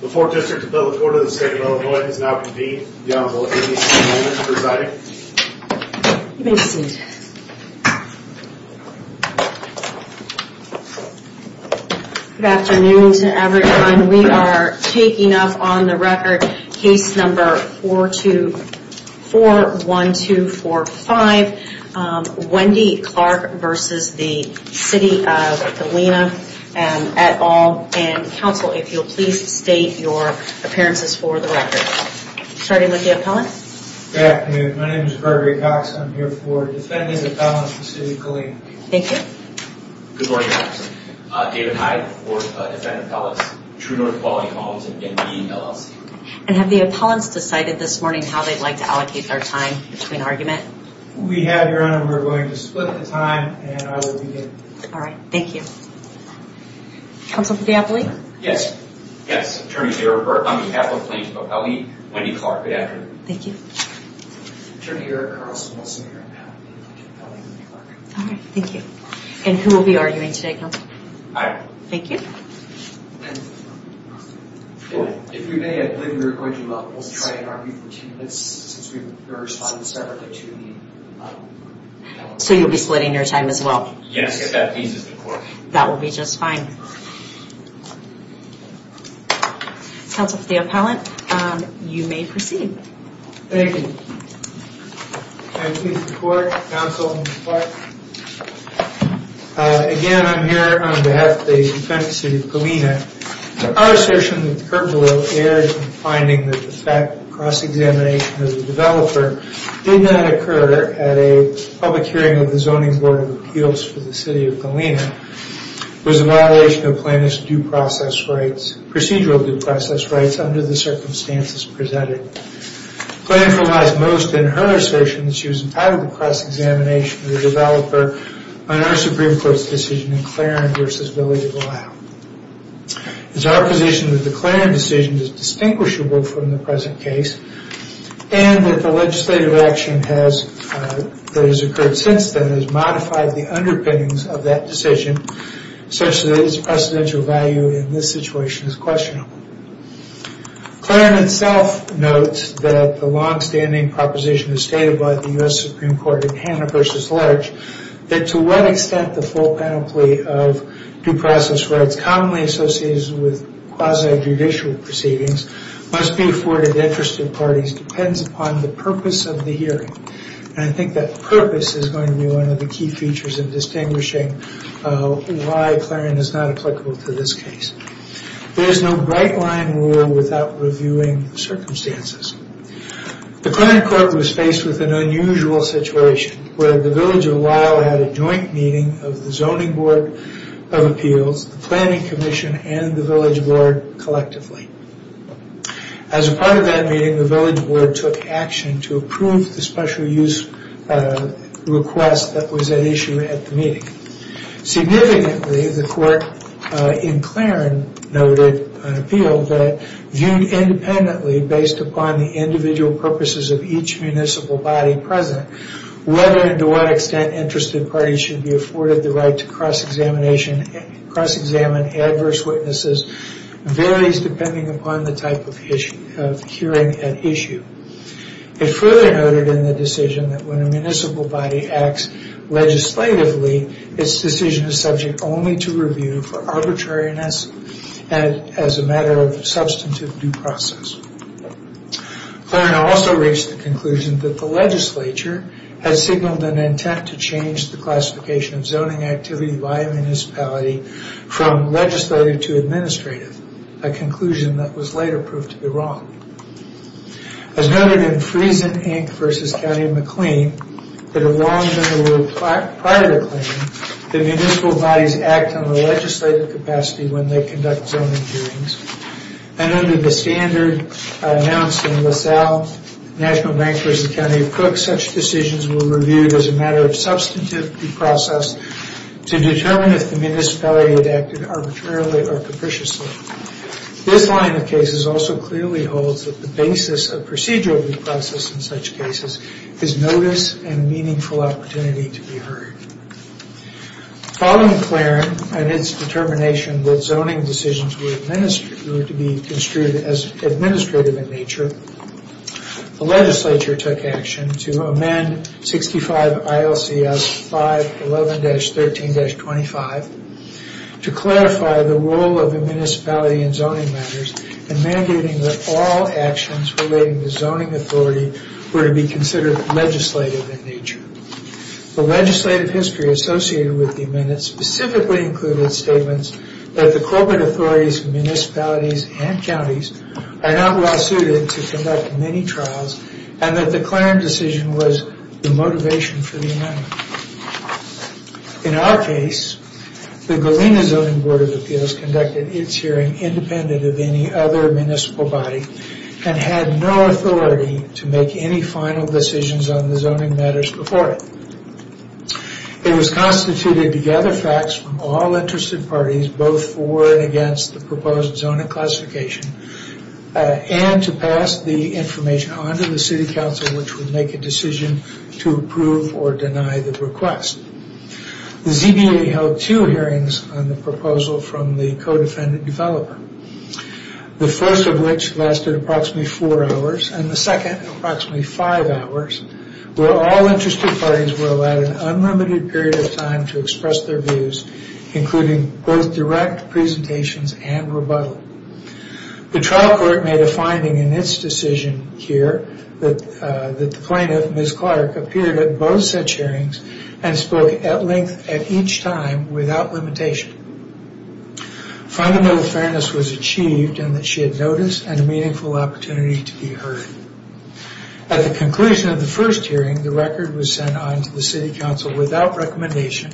The 4th District of Bella Corda, the State of Illinois, has now convened. The Honorable Amy St. Helena is presiding. You may be seated. Good afternoon to everyone. We are taking up on the record case number 4241245, Wendy Clark v. The City of Galena, et al., and counsel, if you'll please state your appearances for the record. Starting with the appellants. Good afternoon. My name is Gregory Cox. I'm here for Defendant Appellants v. The City of Galena. Thank you. Good morning. I'm David Hyde for Defendant Appellants, True North Quality Commons, and the LLC. And have the appellants decided this morning how they'd like to allocate their time between argument? We have, Your Honor. We're going to split the time, and I will begin. All right. Thank you. Counsel for the appellant? Yes. Yes. Attorney Eric Burr on behalf of plaintiff of L.E. Wendy Clark. Good afternoon. Thank you. Attorney Eric Carlson on behalf of plaintiff of L.E. Wendy Clark. All right. Thank you. And who will be arguing today, counsel? I will. Thank you. If we may, I believe we're going to try and argue for two minutes since we were responding separately to the... So you'll be splitting your time as well? Yes, if that pleases the court. That will be just fine. Counsel for the appellant, you may proceed. Thank you. If that pleases the court, counsel Clark. Again, I'm here on behalf of the defendant, City of Galena. Our assertion that Kerbalo erred in finding that the fact of cross-examination of the developer did not occur at a public hearing of the Zoning Board of Appeals for the City of Galena was a violation of plaintiff's procedural due process rights under the circumstances presented. Plaintiff relies most in her assertion that she was entitled to cross-examination of the developer on our Supreme Court's decision in Claren v. Billy DeVille. It is our position that the Claren decision is distinguishable from the present case and that the legislative action that has occurred since then has modified the underpinnings of that decision such that its precedential value in this situation is questionable. Claren itself notes that the long-standing proposition is stated by the U.S. Supreme Court in Hanna v. Larch that to what extent the full penalty of due process rights commonly associated with quasi-judicial proceedings must be afforded to interested parties depends upon the purpose of the hearing. And I think that purpose is going to be one of the key features in distinguishing why Claren is not applicable to this case. There is no bright-line rule without reviewing circumstances. The Claren court was faced with an unusual situation where the Village of Weill had a joint meeting of the Zoning Board of Appeals, the Planning Commission, and the Village Board collectively. As a part of that meeting, the Village Board took action to approve the special use request that was at issue at the meeting. Significantly, the court in Claren noted an appeal that viewed independently based upon the individual purposes of each municipal body present, whether and to what extent interested parties should be afforded the right to cross-examine adverse witnesses varies depending upon the type of hearing at issue. It further noted in the decision that when a municipal body acts legislatively, its decision is subject only to review for arbitrariness and as a matter of substantive due process. Claren also reached the conclusion that the legislature had signaled an intent to change the classification of zoning activity by a municipality from legislative to administrative, a conclusion that was later proved to be wrong. As noted in Friesen, Inc. v. County of McLean, that it had long been the rule prior to their claim that municipal bodies act on a legislative capacity when they conduct zoning hearings. And under the standard announced in LaSalle National Bank v. County of Cook, such decisions were reviewed as a matter of substantive due process to determine if the municipality had acted arbitrarily or capriciously. This line of cases also clearly holds that the basis of procedural due process in such cases is notice and meaningful opportunity to be heard. Following Claren and its determination that zoning decisions were to be construed as administrative in nature, the legislature took action to amend 65 ILCS 511-13-25 to clarify the role of the municipality in zoning matters and mandating that all actions relating to zoning authority were to be considered legislative in nature. The legislative history associated with the amendment specifically included statements that the corporate authorities of municipalities and counties are not well suited to conduct many trials and that the Claren decision was the motivation for the amendment. In our case, the Galena Zoning Board of Appeals conducted its hearing independent of any other municipal body and had no authority to make any final decisions on the zoning matters before it. It was constituted to gather facts from all interested parties both for and against the proposed zoning classification and to pass the information on to the city council which would make a decision to approve or deny the request. The ZBA held two hearings on the proposal from the co-defendant developer. The first of which lasted approximately four hours and the second approximately five hours where all interested parties were allowed an unlimited period of time to express their views including both direct presentations and rebuttal. The trial court made a finding in its decision here that the plaintiff, Ms. Clark, appeared at both such hearings and spoke at length at each time without limitation. Fundamental fairness was achieved and that she had notice and a meaningful opportunity to be heard. At the conclusion of the first hearing, the record was sent on to the city council without recommendation.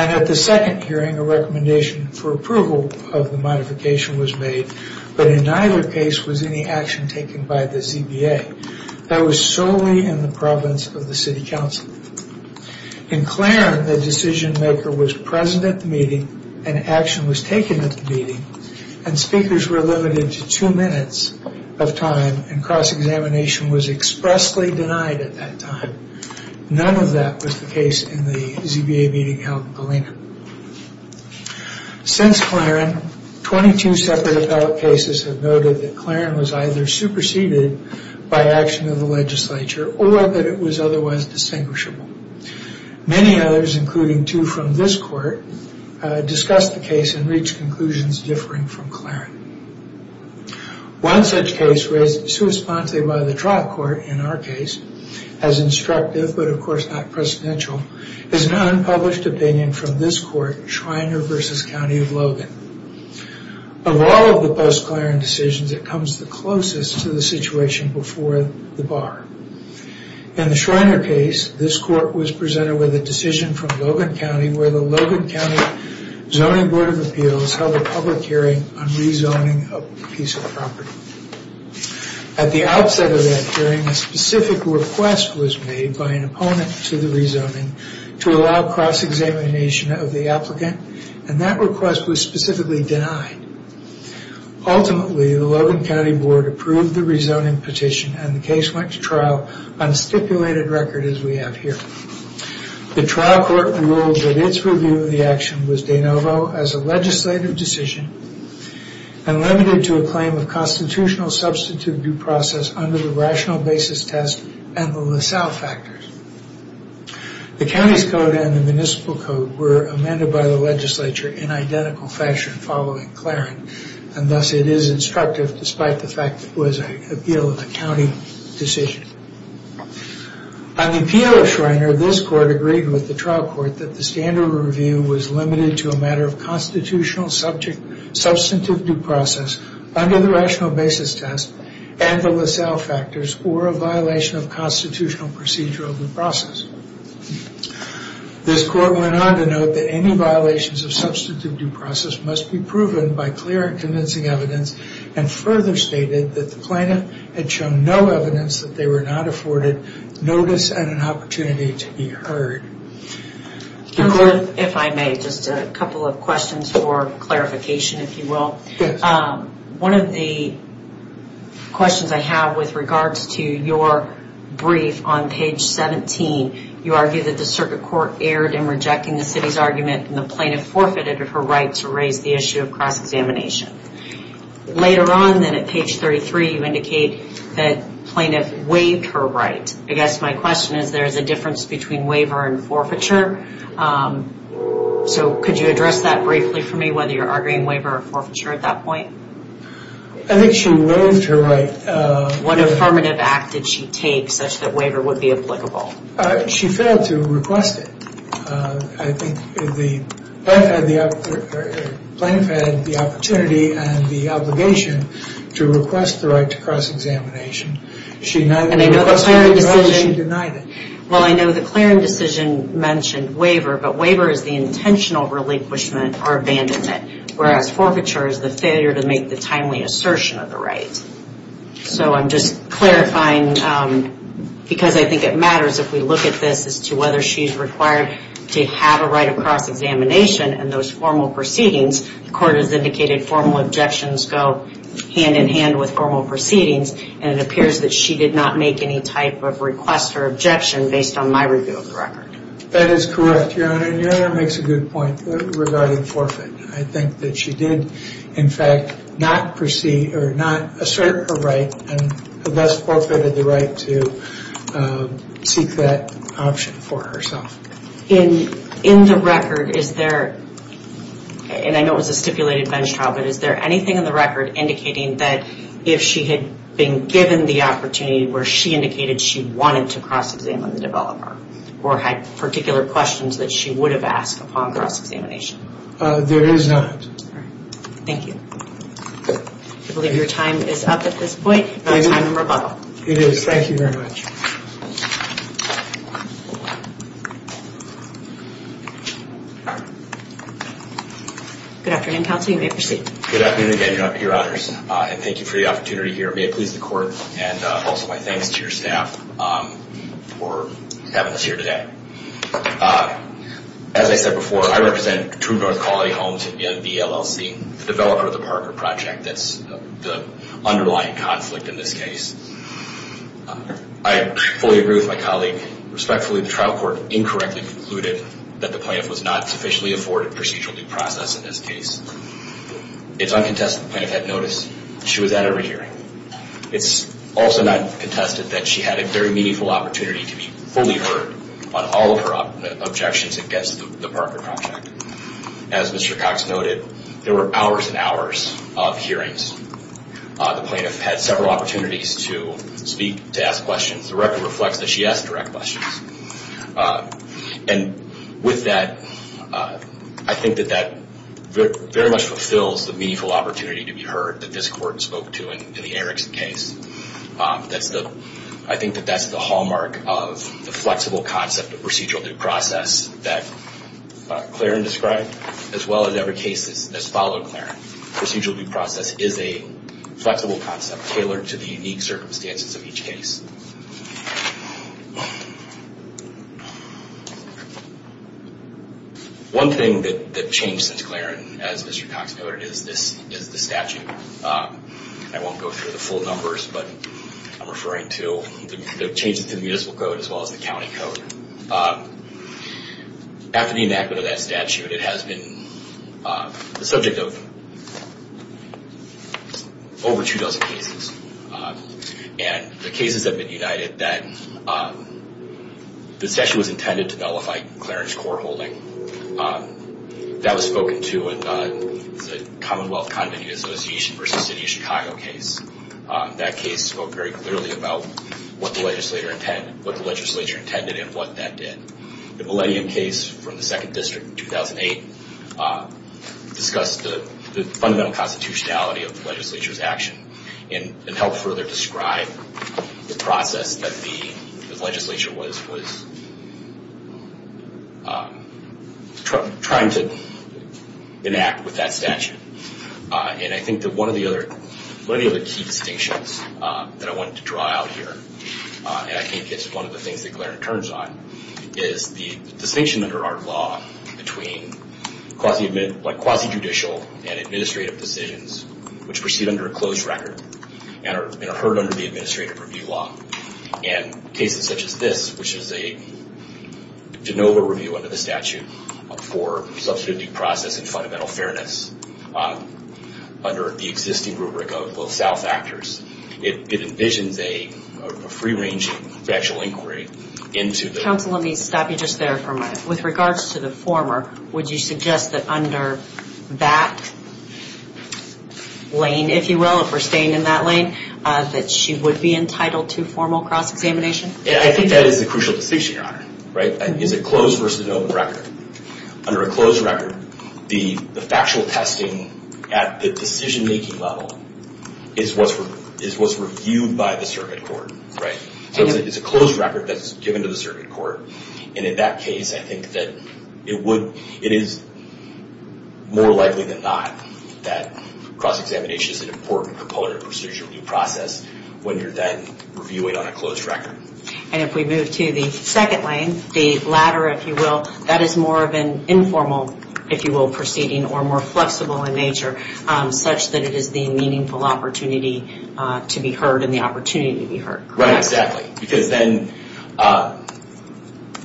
And at the second hearing, a recommendation for approval of the modification was made but in neither case was any action taken by the ZBA. That was solely in the province of the city council. In Claren, the decision maker was present at the meeting and action was taken at the meeting and speakers were limited to two minutes of time and cross-examination was expressly denied at that time. None of that was the case in the ZBA meeting held in Galena. Since Claren, 22 separate appellate cases have noted that Claren was either superseded by action of the legislature or that it was otherwise distinguishable. Many others, including two from this court, discussed the case and reached conclusions differing from Claren. One such case, raised to a sponsor by the trial court in our case, as instructive but of course not presidential, is an unpublished opinion from this court, Schreiner v. County of Logan. Of all of the post-Claren decisions, it comes the closest to the situation before the bar. In the Schreiner case, this court was presented with a decision from Logan County where the Logan County Zoning Board of Appeals held a public hearing on rezoning a piece of property. At the outset of that hearing, a specific request was made by an opponent to the rezoning to allow cross-examination of the applicant and that request was specifically denied. Ultimately, the Logan County Board approved the rezoning petition and the case went to trial on a stipulated record as we have here. The trial court ruled that its review of the action was de novo as a legislative decision and limited to a claim of constitutional substitute due process under the rational basis test and the LaSalle factors. The county's code and the municipal code were amended by the legislature in identical fashion following Claren and thus it is instructive despite the fact that it was an appeal of the county decision. On the appeal of Schreiner, this court agreed with the trial court that the standard review was limited to a matter of constitutional substitute due process under the rational basis test and the LaSalle factors or a violation of constitutional procedural due process. This court went on to note that any violations of substitute due process must be proven by clear and convincing evidence and further stated that the plaintiff had shown no evidence that they were not afforded notice and an opportunity to be heard. If I may, just a couple of questions for clarification if you will. One of the questions I have with regards to your brief on page 17, you argue that the circuit court erred in rejecting the city's argument and the plaintiff forfeited her right to raise the issue of cross-examination. Later on then at page 33, you indicate that plaintiff waived her right. I guess my question is there's a difference between waiver and forfeiture. So could you address that briefly for me whether you're arguing waiver or forfeiture at that point? I think she waived her right. What affirmative act did she take such that waiver would be applicable? She failed to request it. I think the plaintiff had the opportunity and the obligation to request the right to cross-examination. She neither requested it nor denied it. Well, I know the Clarence decision mentioned waiver, but waiver is the intentional relinquishment or abandonment, whereas forfeiture is the failure to make the timely assertion of the right. So I'm just clarifying because I think it matters if we look at this as to whether she's required to have a right of cross-examination and those formal proceedings, the court has indicated formal objections go hand-in-hand with formal proceedings and it appears that she did not make any type of request or objection based on my review of the record. That is correct, Your Honor, and Your Honor makes a good point regarding forfeit. I think that she did, in fact, not assert her right and thus forfeited the right to seek that option for herself. In the record, is there, and I know it was a stipulated bench trial, but is there anything in the record indicating that if she had been given the opportunity where she indicated she wanted to cross-examine the developer or had particular questions that she would have asked upon cross-examination? There is not. Thank you. I believe your time is up at this point. It is. Thank you very much. Good afternoon, counsel. You may proceed. Good afternoon again, Your Honors, and thank you for the opportunity here. May it please the court and also my thanks to your staff for having us here today. As I said before, I represent True North Quality Homes in VLLC, the developer of the Parker Project. That's the underlying conflict in this case. I fully agree with my colleague. Respectfully, the trial court incorrectly concluded that the plaintiff was not sufficiently afforded procedural due process in this case. It's uncontested the plaintiff had notice she was at every hearing. It's also not contested that she had a very meaningful opportunity to be fully heard on all of her objections against the Parker Project. As Mr. Cox noted, there were hours and hours of hearings. The plaintiff had several opportunities to speak, to ask questions. The record reflects that she asked direct questions. And with that, I think that that very much fulfills the meaningful opportunity to be heard that this court spoke to in the Erickson case. I think that that's the hallmark of the flexible concept of procedural due process that Claren described, as well as every case that's followed Claren. Procedural due process is a flexible concept tailored to the unique circumstances of each case. One thing that changed since Claren, as Mr. Cox noted, is the statute. I won't go through the full numbers, but I'm referring to the changes to the municipal code as well as the county code. After the enactment of that statute, it has been the subject of over two dozen cases. And the cases have been united that the session was intended to nullify Claren's court holding. That was spoken to in the Commonwealth Convention Association v. City of Chicago case. That case spoke very clearly about what the legislature intended and what that did. The Millennium case from the 2nd District in 2008 discussed the fundamental constitutionality of the legislature's action and helped further describe the process that the legislature was trying to enact with that statute. And I think that one of the other key distinctions that I wanted to draw out here, and I think it's one of the things that Claren turns on, is the distinction under our law between quasi-judicial and administrative decisions which proceed under a closed record and are heard under the administrative review law. And cases such as this, which is a de novo review under the statute for substantive due process and fundamental fairness under the existing rubric of South Actors, it envisions a free-ranging factual inquiry into the... lane, if you will, if we're staying in that lane, that she would be entitled to formal cross-examination. I think that is a crucial distinction, Your Honor. It's a closed versus open record. Under a closed record, the factual testing at the decision-making level is what's reviewed by the circuit court. It's a closed record that's given to the circuit court. And in that case, I think that it is more likely than not that cross-examination is an important component of procedural due process when you're then reviewing on a closed record. And if we move to the second lane, the latter, if you will, that is more of an informal, if you will, proceeding or more flexible in nature, such that it is the meaningful opportunity to be heard and the opportunity to be heard. Right, exactly. Because then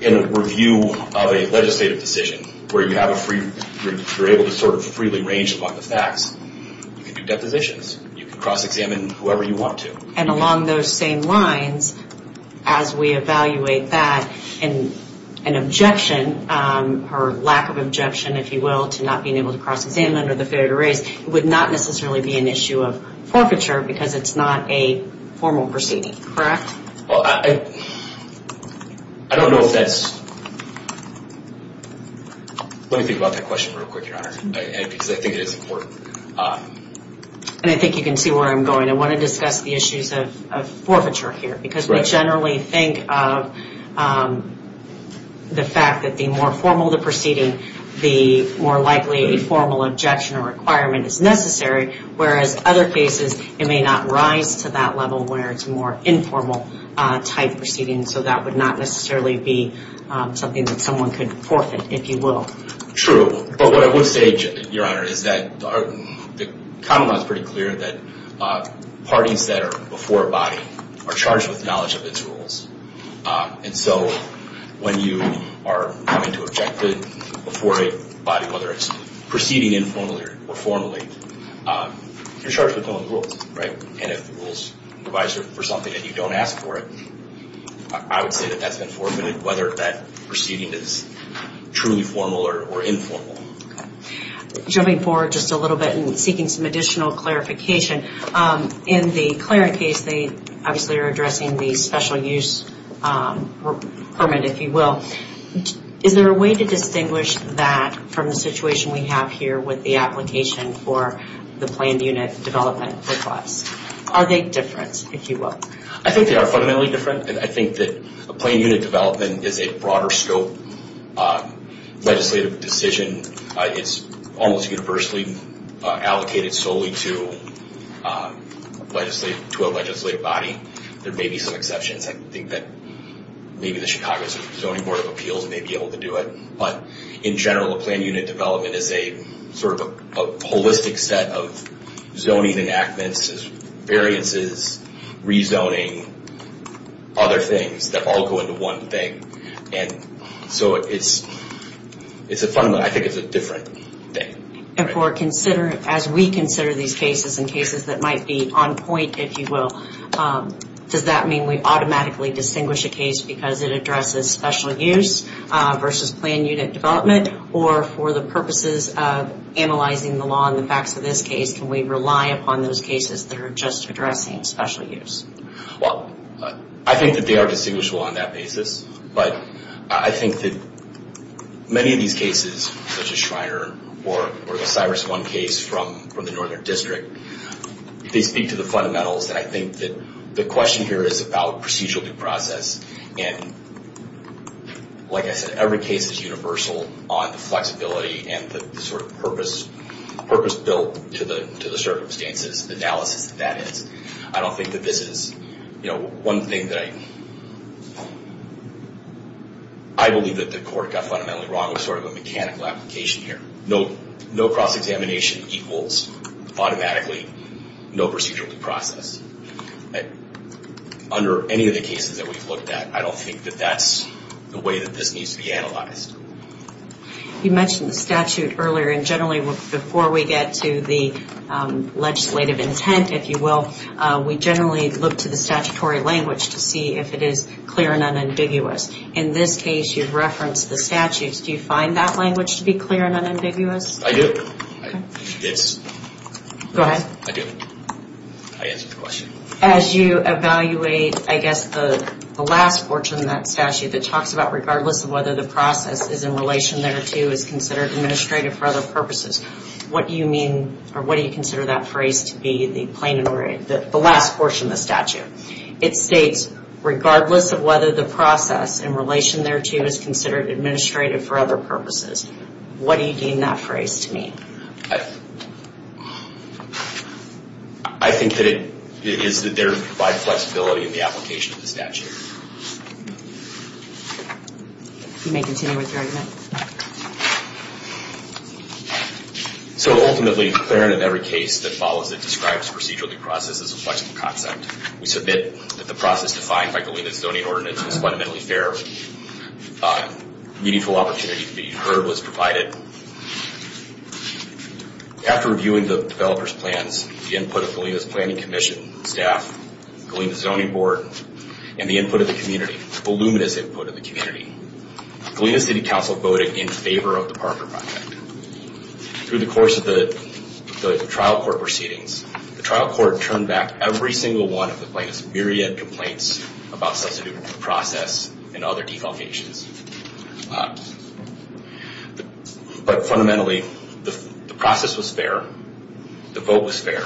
in a review of a legislative decision where you're able to sort of freely range among the facts, you can do depositions. You can cross-examine whoever you want to. And along those same lines, as we evaluate that, an objection or lack of objection, if you will, to not being able to cross-examine under the fair to raise would not necessarily be an issue of forfeiture because it's not a formal proceeding, correct? Well, I don't know if that's... Let me think about that question real quick, Your Honor, because I think it is important. And I think you can see where I'm going. I want to discuss the issues of forfeiture here because we generally think of the fact that the more formal the proceeding, the more likely a formal objection or requirement is necessary, whereas other cases it may not rise to that level where it's more informal-type proceedings. So that would not necessarily be something that someone could forfeit, if you will. True. But what I would say, Your Honor, is that the common law is pretty clear that parties that are before a body are charged with knowledge of its rules. And so when you are coming to object before a body, whether it's proceeding informally or formally, you're charged with knowing the rules, right? And if the rules revise for something and you don't ask for it, I would say that that's been forfeited, whether that proceeding is truly formal or informal. Jumping forward just a little bit and seeking some additional clarification, in the Clarent case, they obviously are addressing the special use permit, if you will. Is there a way to distinguish that from the situation we have here with the application for the planned unit development request? Are they different, if you will? I think they are fundamentally different, and I think that a planned unit development is a broader scope legislative decision. It's almost universally allocated solely to a legislative body. There may be some exceptions. I think that maybe the Chicago Zoning Board of Appeals may be able to do it. But in general, a planned unit development is sort of a holistic set of zoning enactments, variances, rezoning, other things that all go into one thing. So fundamentally, I think it's a different thing. And as we consider these cases and cases that might be on point, if you will, does that mean we automatically distinguish a case because it addresses special use versus planned unit development? Or for the purposes of analyzing the law and the facts of this case, can we rely upon those cases that are just addressing special use? Well, I think that they are distinguishable on that basis. But I think that many of these cases, such as Schreiner or the Cyrus I case from the Northern District, they speak to the fundamentals that I think that the question here is about procedural due process. And like I said, every case is universal on the flexibility and the sort of purpose built to the circumstances, the analysis that is. I don't think that this is, you know, one thing that I believe that the court got fundamentally wrong with sort of a mechanical application here. No cross-examination equals automatically no procedural due process. Under any of the cases that we've looked at, I don't think that that's the way that this needs to be analyzed. You mentioned the statute earlier. And generally before we get to the legislative intent, if you will, we generally look to the statutory language to see if it is clear and unambiguous. In this case, you've referenced the statutes. Do you find that language to be clear and unambiguous? I do. Go ahead. I do. I answered the question. As you evaluate, I guess, the last portion of that statute, it talks about regardless of whether the process is in relation thereto is considered administrative for other purposes. What do you mean or what do you consider that phrase to be, the last portion of the statute? It states regardless of whether the process in relation thereto is considered administrative for other purposes. What do you deem that phrase to mean? I think that it is that there is flexibility in the application of the statute. You may continue with your argument. So ultimately, in every case that follows it describes procedural due process as a flexible concept. We submit that the process defined by Galena's zoning ordinance is fundamentally fair. Meaningful opportunity to be deferred was provided. After reviewing the developer's plans, the input of Galena's planning commission, staff, Galena's zoning board, and the input of the community, voluminous input of the community, Galena City Council voted in favor of the Parker Project. Through the course of the trial court proceedings, the trial court turned back every single one of the plaintiff's myriad of complaints about substantive due process and other defamations. But fundamentally, the process was fair. The vote was fair.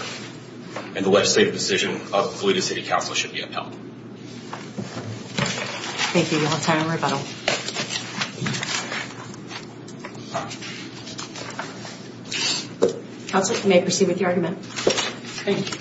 And the legislative decision of Galena City Council should be upheld. Thank you. You'll have time for rebuttal. Counsel, you may proceed with your argument. Again,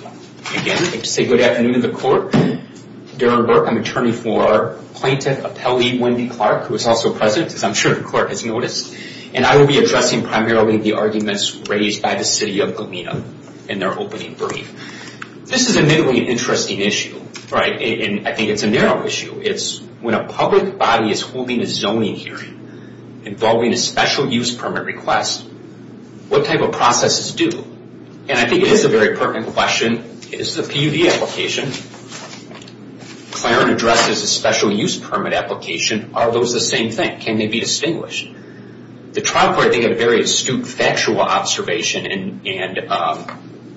I'd like to say good afternoon to the court. Darren Burke, I'm an attorney for Plaintiff Appellee Wendy Clark, who is also present, as I'm sure the court has noticed. And I will be addressing primarily the arguments raised by the city of Galena in their opening brief. This is admittedly an interesting issue, right? And I think it's a narrow issue. It's when a public body is holding a zoning hearing involving a special use permit request, what type of process is due? And I think it is a very pertinent question. This is a PUD application. Claren addresses a special use permit application. Are those the same thing? Can they be distinguished? The trial court, I think, had a very astute factual observation and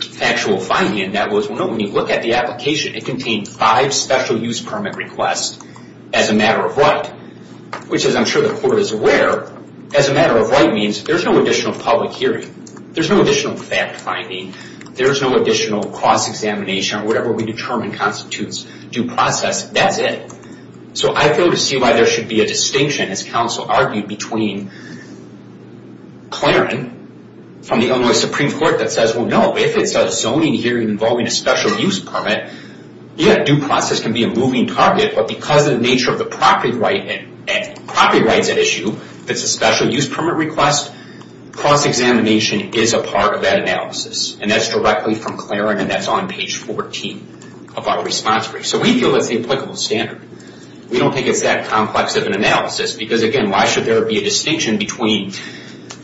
factual finding, and that was, when you look at the application, it contained five special use permit requests as a matter of right, which, as I'm sure the court is aware, as a matter of right means there's no additional public hearing. There's no additional fact finding. There's no additional cross-examination or whatever we determine constitutes due process. That's it. So I feel to see why there should be a distinction, as counsel argued, between Claren from the Illinois Supreme Court that says, well, no, if it's a zoning hearing involving a special use permit, yeah, due process can be a moving target, but because of the nature of the property rights at issue, if it's a special use permit request, cross-examination is a part of that analysis, and that's directly from Claren, and that's on page 14 of our response brief. So we feel that's the applicable standard. We don't think it's that complex of an analysis because, again, why should there be a distinction between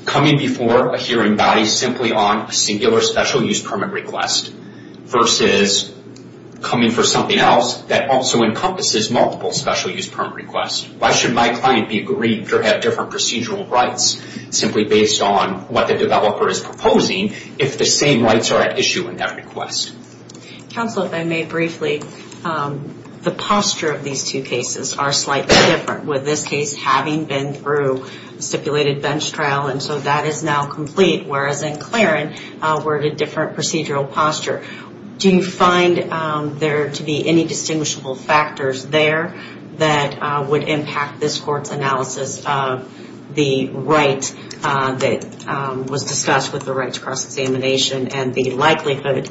coming before a hearing body simply on a singular special use permit request versus coming for something else that also encompasses multiple special use permit requests? Why should my client be aggrieved or have different procedural rights simply based on what the developer is proposing if the same rights are at issue in that request? Counsel, if I may briefly, the posture of these two cases are slightly different, with this case having been through a stipulated bench trial, and so that is now complete, whereas in Claren we're at a different procedural posture. Do you find there to be any distinguishable factors there that would impact this Court's analysis of the right that was discussed with the right to cross-examination and the likelihood?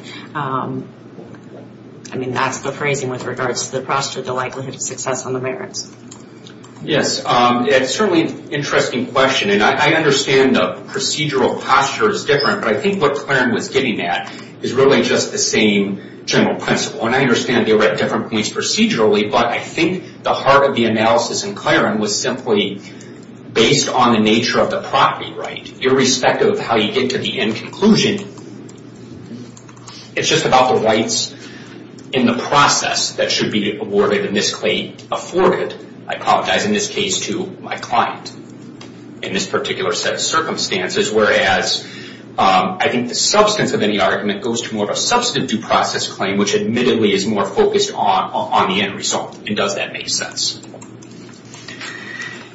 I mean, that's the phrasing with regards to the posture, the likelihood of success on the merits. Yes, it's certainly an interesting question, and I understand the procedural posture is different, but I think what Claren was getting at is really just the same general principle, and I understand they were at different points procedurally, but I think the heart of the analysis in Claren was simply based on the nature of the property right, irrespective of how you get to the end conclusion. It's just about the rights in the process that should be awarded and this claim afforded, I apologize in this case, to my client in this particular set of circumstances, whereas I think the substance of any argument goes to more of a substantive due process claim, which admittedly is more focused on the end result, and does that make sense?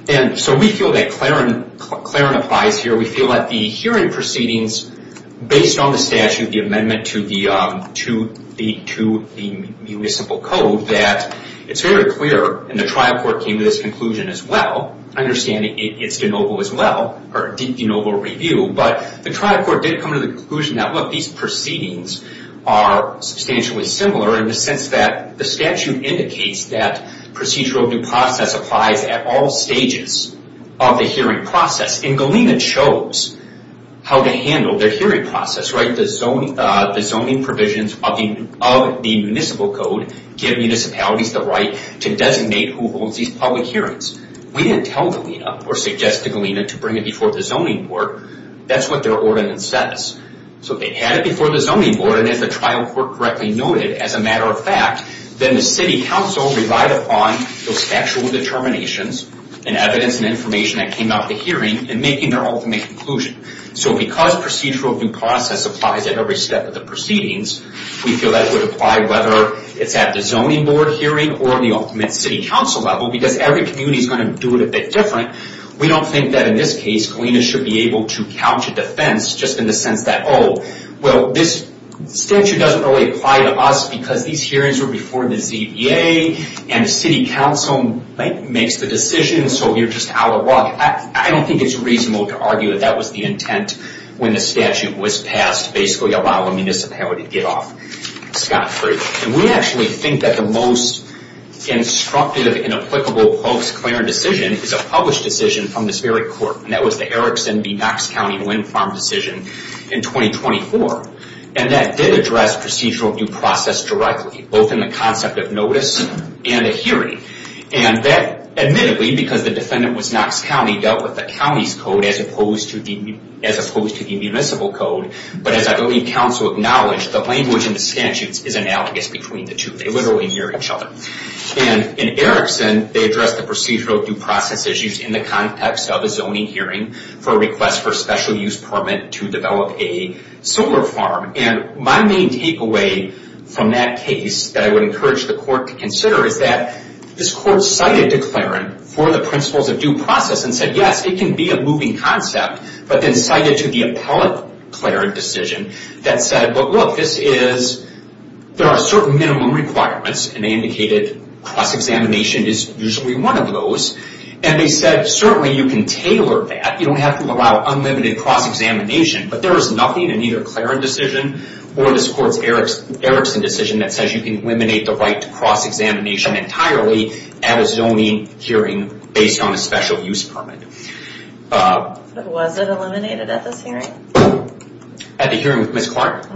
And so we feel that Claren applies here. We feel that the hearing proceedings, based on the statute, the amendment to the simple code, that it's very clear and the trial court came to this conclusion as well. I understand it's de novo as well, or de novo review, but the trial court did come to the conclusion that these proceedings are substantially similar in the sense that the statute indicates that procedural due process applies at all stages of the hearing process, and Galena chose how to handle their hearing process, the zoning provisions of the municipal code give municipalities the right to designate who holds these public hearings. We didn't tell Galena or suggest to Galena to bring it before the zoning board. That's what their ordinance says. So they had it before the zoning board, and as the trial court correctly noted, as a matter of fact, then the city council relied upon those actual determinations and evidence and information that came out of the hearing in making their ultimate conclusion. So because procedural due process applies at every step of the proceedings, we feel that would apply whether it's at the zoning board hearing or the ultimate city council level, because every community is going to do it a bit different. We don't think that in this case Galena should be able to couch a defense just in the sense that, oh, this statute doesn't really apply to us because these hearings were before the ZBA, and the city council makes the decision, so you're just out of luck. I don't think it's reasonable to argue that that was the intent when the statute was passed, basically allowing the municipality to get off scot-free. We actually think that the most instructive and applicable post-clearance decision is a published decision from this very court, and that was the Erickson v. Knox County wind farm decision in 2024. That did address procedural due process directly, both in the concept of notice and a hearing. Admittedly, because the defendant was Knox County, dealt with the county's code as opposed to the municipal code, but as I believe council acknowledged, the language in the statutes is analogous between the two. They literally hear each other. In Erickson, they addressed the procedural due process issues in the context of a zoning hearing for a request for a special use permit to develop a solar farm. My main takeaway from that case that I would encourage the court to consider is that this court cited declarant for the principles of due process and said, yes, it can be a moving concept, but then cited to the appellate declarant decision that said, look, this is, there are certain minimum requirements and they indicated cross-examination is usually one of those, and they said certainly you can tailor that. You don't have to allow unlimited cross-examination, but there is nothing in either Claren's decision or this court's Erickson decision that says you can eliminate the right to cross-examination entirely at a zoning hearing based on a special use permit. Was it eliminated at this hearing? At the hearing with Ms. Clark?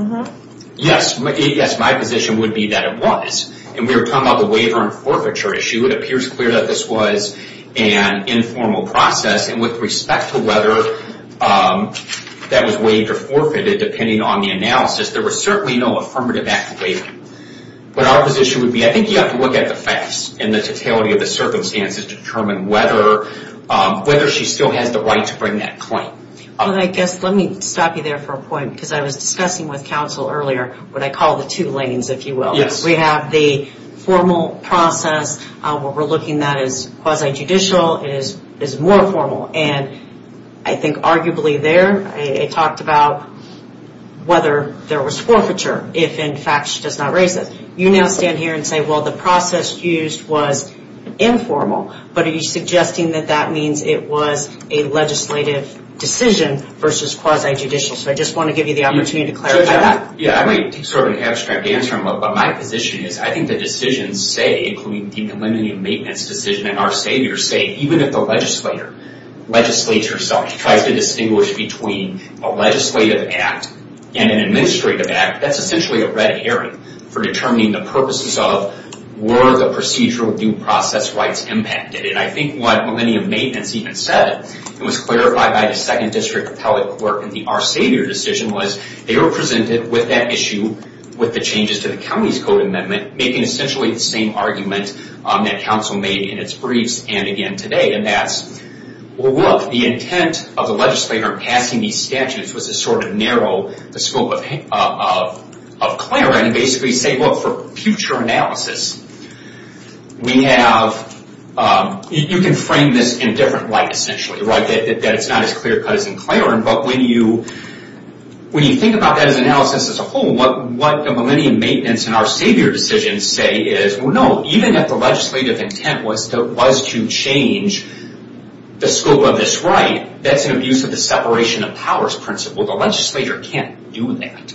Yes, my position would be that it was. And we were talking about the waiver and forfeiture issue. It appears clear that this was an informal process and with respect to whether that was waived or forfeited, depending on the analysis, there was certainly no affirmative act waiving. But our position would be, I think you have to look at the facts and the totality of the circumstances to determine whether she still has the right to bring that claim. Let me stop you there for a point, because I was discussing with counsel earlier what I call the two lanes, if you will. We have the formal process, what we're looking at is quasi-judicial, it is more formal, and I think arguably there I talked about whether there was forfeiture, if in fact she does not raise it. You now stand here and say, well the process used was informal, but are you suggesting that that means it was a legislative decision versus quasi-judicial? So I just want to give you the opportunity to clarify that. Yeah, I might take sort of an abstract answer, but my position is I think the decisions say, including the eliminating maintenance decision and our savior say, even if the legislator legislates herself, tries to distinguish between a legislative act and an administrative act, that's essentially a red herring for determining the purposes of, were the procedural due process rights impacted? And I think what many of maintenance even said, and was clarified by the second district appellate clerk in the our savior decision was, they were presented with that issue, with the changes to the county's code amendment making essentially the same argument that council made in its briefs and again today, and that's well look, the intent of the legislator passing these statutes was to sort of narrow the scope of clearing and basically say, look for future analysis, we have you can frame this in different light essentially, right? That it's not as clear cut as in clearing, but when you think about that as analysis as a whole, what the millennium maintenance and our savior decision say is, well no, even if the legislative intent was to change the scope of this right, that's an abuse of the separation of powers principle, the legislator can't do that,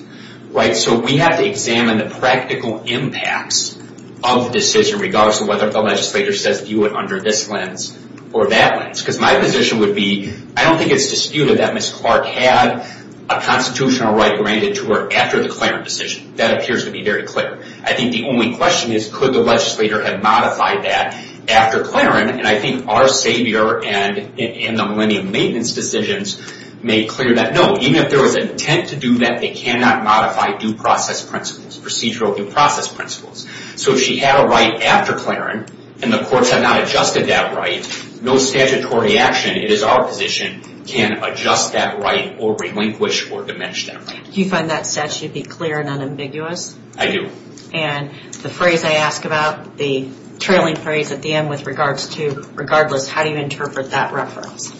right? So we have to examine the practical impacts of the decision regardless of whether the legislator says view it under this lens or that lens, because my position would be, I don't think it's disputed that Ms. Clark had a constitutional right granted to her after the Clarence decision, that appears to be very clear. I think the only question is, could the legislator have modified that after Clarence, and I think our savior and the millennium maintenance decisions made clear that no, even if there was intent to do that, they cannot modify due process principles, procedural due process principles. So if she had a right after Clarence, and the courts have not adjusted that right, no statutory action, it is our position, can adjust that right or relinquish or diminish that right. Do you find that statute to be clear and unambiguous? I do. And the phrase I ask about, the trailing phrase at the end with regards to regardless, how do you interpret that reference?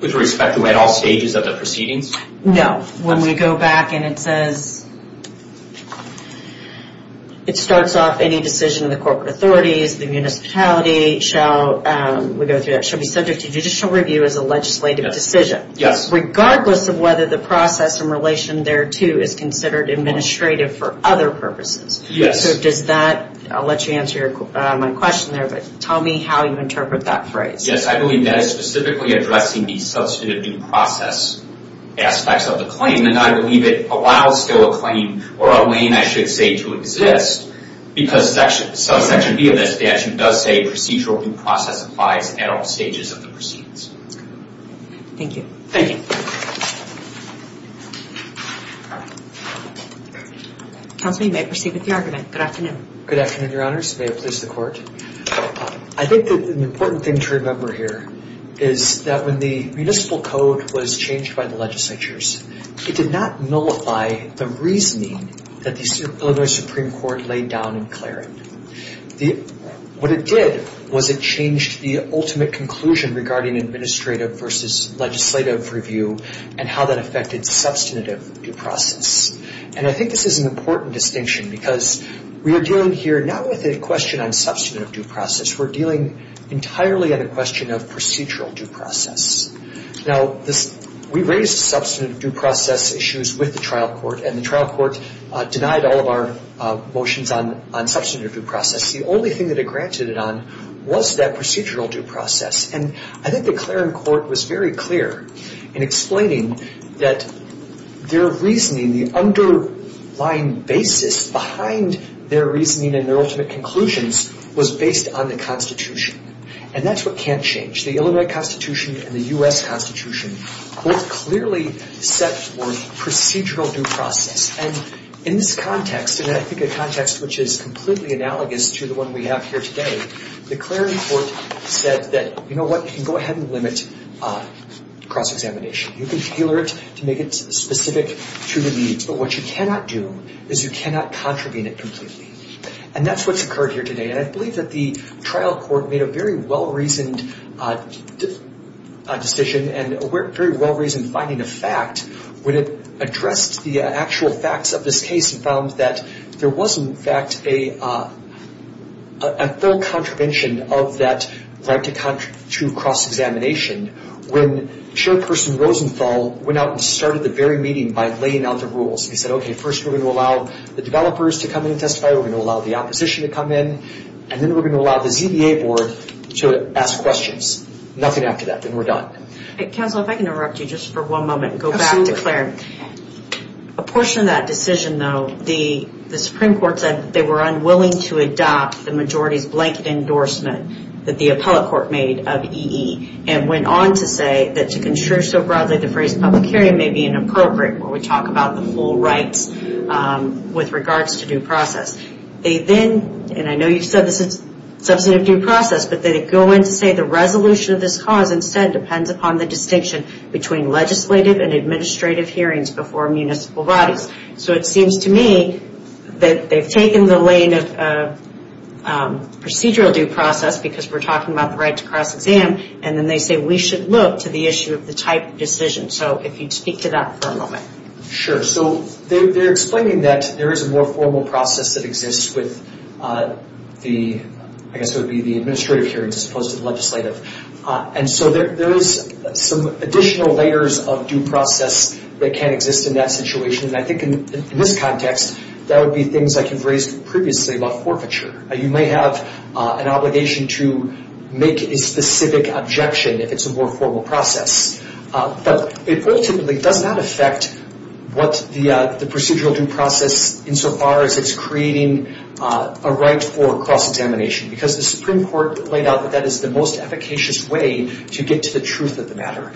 With respect to at all stages of the proceedings? No. When we go back and it says it starts off any decision of the corporate authorities, the municipality shall be subject to judicial review as a legislative decision. Yes. Regardless of whether the process in relation there to is considered administrative for other purposes. Yes. So does that, I'll let you answer my question there, but tell me how you interpret that phrase. Yes, I believe that is specifically addressing the substantive due process aspects of the claim and I believe it allows still a claim or a lane I should say to exist because section B of that statute does say procedural due process applies at all stages of the proceedings. Thank you. Thank you. Counselor, you may proceed with the argument. Good afternoon. Good afternoon, your honors. May it please the court. I think that an important thing to remember here is that when the municipal code was changed by the legislatures, it did not nullify the reasoning that the Illinois Supreme Court laid down in Clarence. What it did was it changed the ultimate conclusion regarding administrative versus legislative review and how that affected substantive due process. And I think this is an important distinction because we are dealing here not with a question on substantive due process. We're dealing entirely on a question of procedural due process. Now, we raised substantive due process issues with the trial court and the trial court denied all of our motions on substantive due process. The only thing that it granted it on was that procedural due process. And I think the Clarence court was very clear in explaining that their reasoning, the underlying basis behind their reasoning and their ultimate conclusions was based on the Constitution. And that's what can't change. The Illinois Constitution and the U.S. Constitution both clearly set for procedural due process. And in this context, and I think a context which is completely analogous to the one we have here today, the Clarence court said that, you know what, you can go ahead and limit cross-examination. You can tailor it to make it specific to the needs. But what you cannot do is you cannot contravene it completely. And that's what's occurred here today. And I believe that the trial court made a very well-reasoned decision and a very well-reasoned finding of fact when it addressed the actual facts of this case and found that there was, in fact, a full contravention of that right to cross-examination when Chairperson Rosenthal went out and started the very meeting by laying out the rules. He said, okay, first we're going to allow the developers to come in and testify. We're going to allow the opposition to come in. And then we're going to allow the ZBA board to ask questions. Nothing after that. Then we're done. Counsel, if I can interrupt you just for one moment and go back to Clarence. A portion of that decision, though, the Supreme Court was not willing to adopt the majority's blanket endorsement that the appellate court made of E.E. and went on to say that to construe so broadly the phrase public hearing may be inappropriate when we talk about the full rights with regards to due process. They then, and I know you said this is substantive due process, but they go on to say the resolution of this cause instead depends upon the distinction between legislative and administrative hearings before municipal bodies. It seems to me that they've taken the lane of procedural due process because we're talking about the right to cross-exam and then they say we should look to the issue of the type of decision. If you'd speak to that for a moment. They're explaining that there is a more formal process that exists with the administrative hearings as opposed to the legislative. There is some additional layers of due process that can exist in that situation. In this context, that would be things like you've raised previously about forfeiture. You may have an obligation to make a specific objection if it's a more formal process. It ultimately does not affect what the procedural due process insofar as it's creating a right for cross-examination because the Supreme Court laid out that that is the most efficacious way to get to the truth of the matter.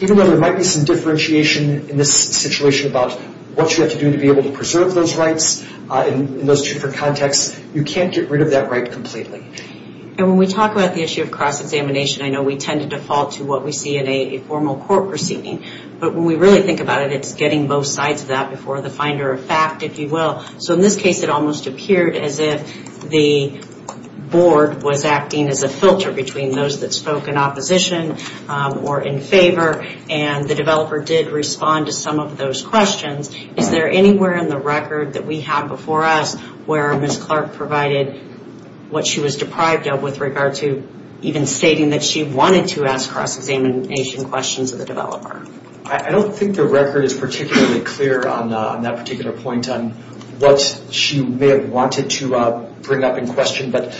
Even though there might be some differentiation in this situation about what you have to do to preserve those rights in those different contexts, you can't get rid of that right completely. When we talk about the issue of cross-examination I know we tend to default to what we see in a formal court proceeding but when we really think about it, it's getting both sides of that before the finder of fact, if you will. In this case, it almost appeared as if the board was acting as a filter between those that spoke in opposition or in favor and the developer did respond to some of those questions. Is there anywhere in the record that we have before us where Ms. Clark provided what she was deprived of with regard to even stating that she wanted to ask cross-examination questions of the developer? I don't think the record is particularly clear on that particular point on what she may have wanted to bring up in question but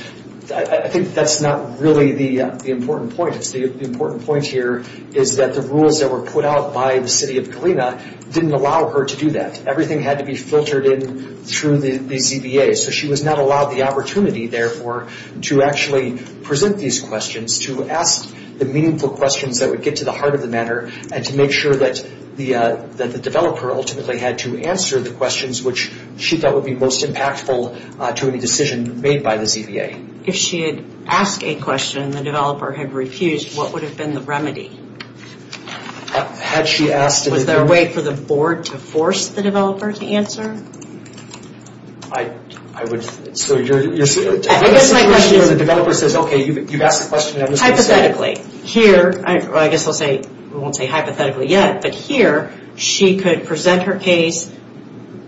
I think that's not really the important point. The important point here is that the rules that were put out by the city of Galena didn't allow her to do that. Everything had to be filtered in through the ZBA so she was not allowed the opportunity, therefore, to actually present these questions, to ask the meaningful questions that would get to the heart of the matter and to make sure that the developer ultimately had to answer the questions which she thought would be most impactful to any decision made by the ZBA. If she had asked a question and the developer had refused what would have been the remedy? Was there a way for the board to force the developer to answer? I guess my question is hypothetically, here I guess I won't say hypothetically yet but here she could present her case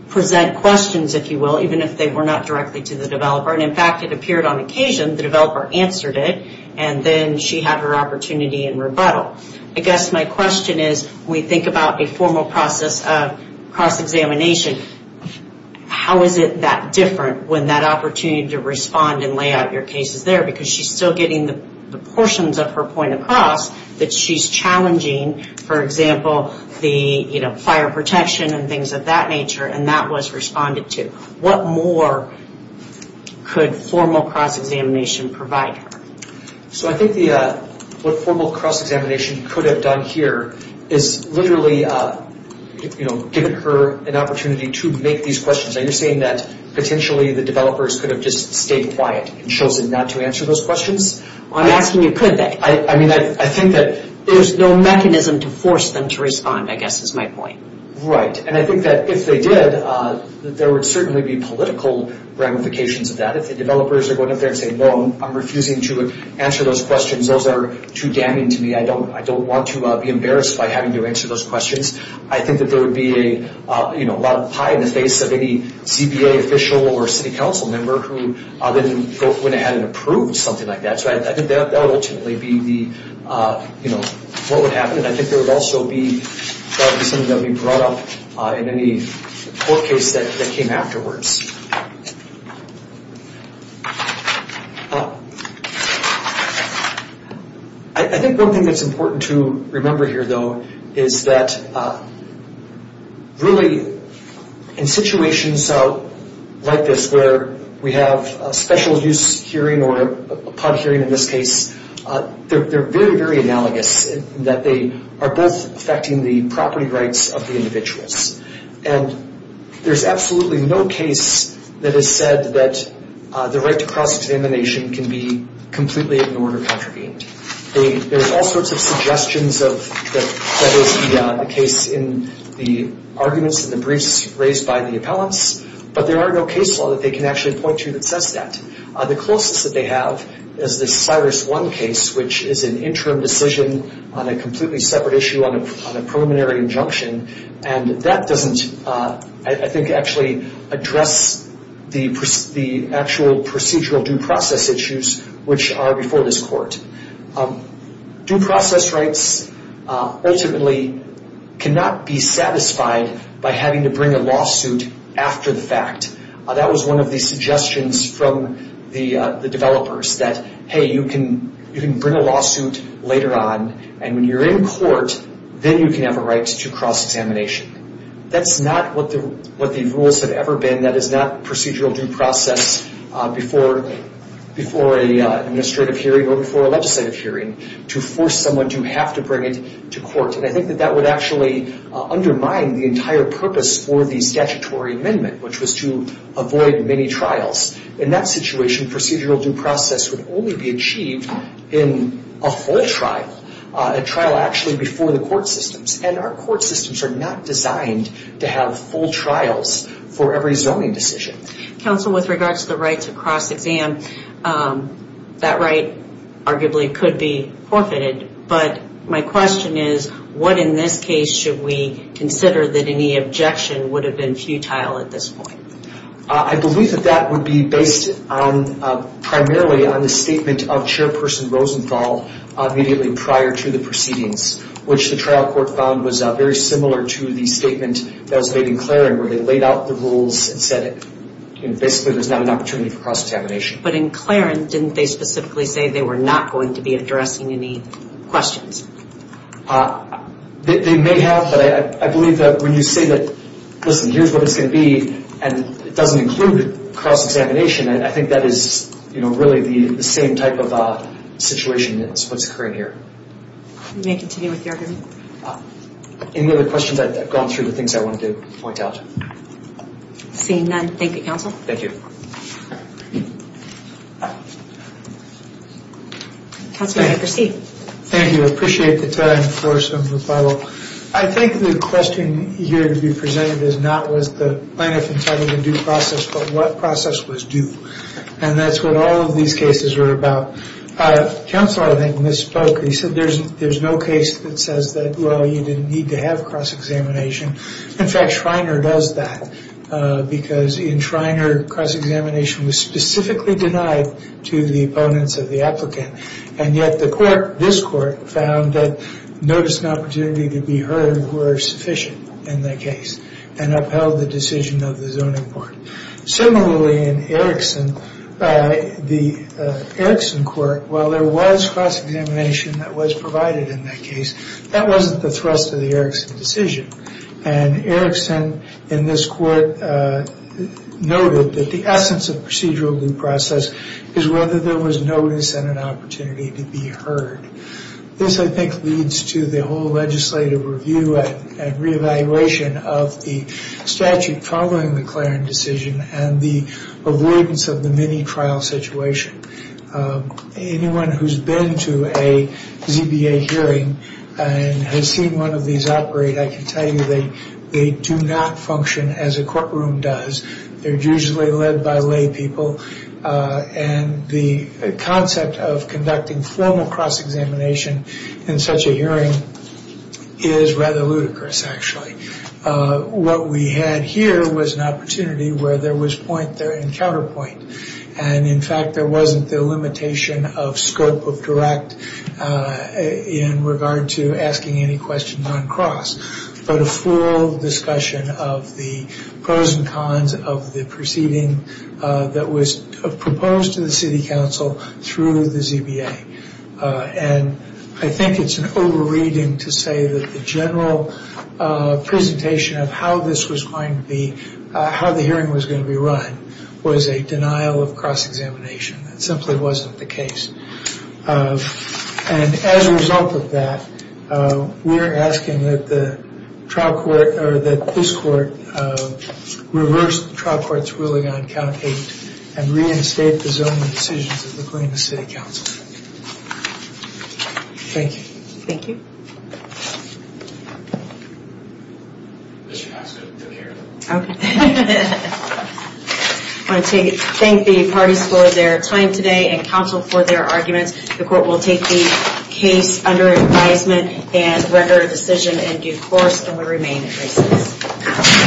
present questions, if you will, even if they were not directly to the developer and in fact it appeared on occasion the developer answered it and then she had her opportunity in rebuttal. I guess my question is when we think about a formal process of cross-examination how is it that different when that opportunity to respond and lay out your case is there because she's still getting the portions of her point across that she's challenging, for example, the fire protection and things of that nature and that was responded to. What more could formal cross-examination provide her? I think what formal cross-examination could have done here is literally given her an opportunity to make these questions. You're saying that potentially the developers could have just stayed quiet and chosen not to answer those questions? I'm asking you, could they? There's no mechanism to force them to respond, I guess is my point. Right, and I think that if they did there would certainly be political ramifications of that if the developers are going up there and saying no, I'm refusing to answer those questions, those are too damning to me I don't want to be embarrassed by having to answer those questions I think that there would be a lot of pie in the face of any CBA official or city council member who went ahead and approved something like that so I think that would ultimately be what would happen and I think that would also be something that would be brought up in any court case that came afterwards. I think one thing that's important to remember here though is that really in situations like this where we have a special use hearing or a pub hearing in this case they're very, very analogous in that they are both affecting the property rights of the individuals and there's absolutely no case that has said that the right to cross-examination can be completely ignored or contravened there's all sorts of suggestions that is the case in the arguments and the briefs raised by the appellants but there are no case law that they can actually point to that says that the closest that they have is the Cyrus 1 case which is an interim decision on a completely separate issue on a preliminary injunction and that doesn't, I think, actually address the actual procedural due process issues which are before this court due process rights ultimately cannot be satisfied by having to bring a lawsuit after the fact that was one of the suggestions from the developers that, hey, you can bring a lawsuit later on and when you're in court then you can have a right to cross-examination that's not what the rules have ever been that is not procedural due process before a legislative hearing to force someone to have to bring it to court and I think that would actually undermine the entire purpose for the statutory amendment which was to avoid many trials in that situation procedural due process would only be achieved in a full trial a trial actually before the court systems and our court systems are not designed to have full trials for every zoning decision Counsel, with regards to the right to cross-exam that right arguably could be forfeited but my question is what in this case should we consider that any objection would have been futile at this point? I believe that would be based primarily on the statement of Chairperson Rosenthal immediately prior to the proceedings which the trial court found was very similar to the statement that was made in Claren where they laid out the rules and said basically there's not an opportunity for cross-examination but in Claren didn't they specifically say they were not going to be addressing any questions? They may have but I believe that when you say that listen here's what it's going to be and it doesn't include cross-examination I think that is really the same type of situation that's occurring here You may continue with your argument Any other questions? I've gone through the things I wanted to point out Seeing none, thank you Counsel Thank you Counsel, you may proceed Thank you, I appreciate the time for some rebuttal I think the question here to be presented is not was the plaintiff entitled to due process but what process was due and that's what all of these cases were about Counsel I think misspoke He said there's no case that says that well you didn't need to have cross-examination In fact Schreiner does that because in Schreiner cross-examination was specifically denied to the opponents of the applicant and yet the court, this court found that notice and opportunity to be heard were sufficient in that case and upheld the decision of the zoning board Similarly in Erickson the Erickson court, while there was cross-examination that was provided in that case that wasn't the thrust of the Erickson decision and Erickson in this court noted that the essence of procedural due process is whether there was notice and an opportunity to be heard This I think leads to the whole legislative review and re-evaluation of the statute following the Clarence decision and the avoidance of the mini-trial situation Anyone who's been to a ZBA hearing and has seen one of these operate, I can tell you they do not function as a courtroom does They're usually led by lay people and the concept of conducting formal cross-examination in such a hearing is rather ludicrous actually What we had here was an opportunity where there was point there and counterpoint and in fact there wasn't the limitation of scope of direct in regard to asking any questions on cross but a full discussion of the pros and cons of the proceeding that was proposed to the city council through the ZBA and I think it's an over-reading to say that the general presentation of how this was going to be how the hearing was going to be run was a denial of cross-examination. That simply wasn't the case and as a result of that we're asking that the trial court or that this court reverse the trial court's ruling on count 8 and reinstate the zoning decisions according to city council Thank you I want to thank the parties for their time today and counsel for their arguments The court will take the case under advisement and render a decision in due course and we remain in recess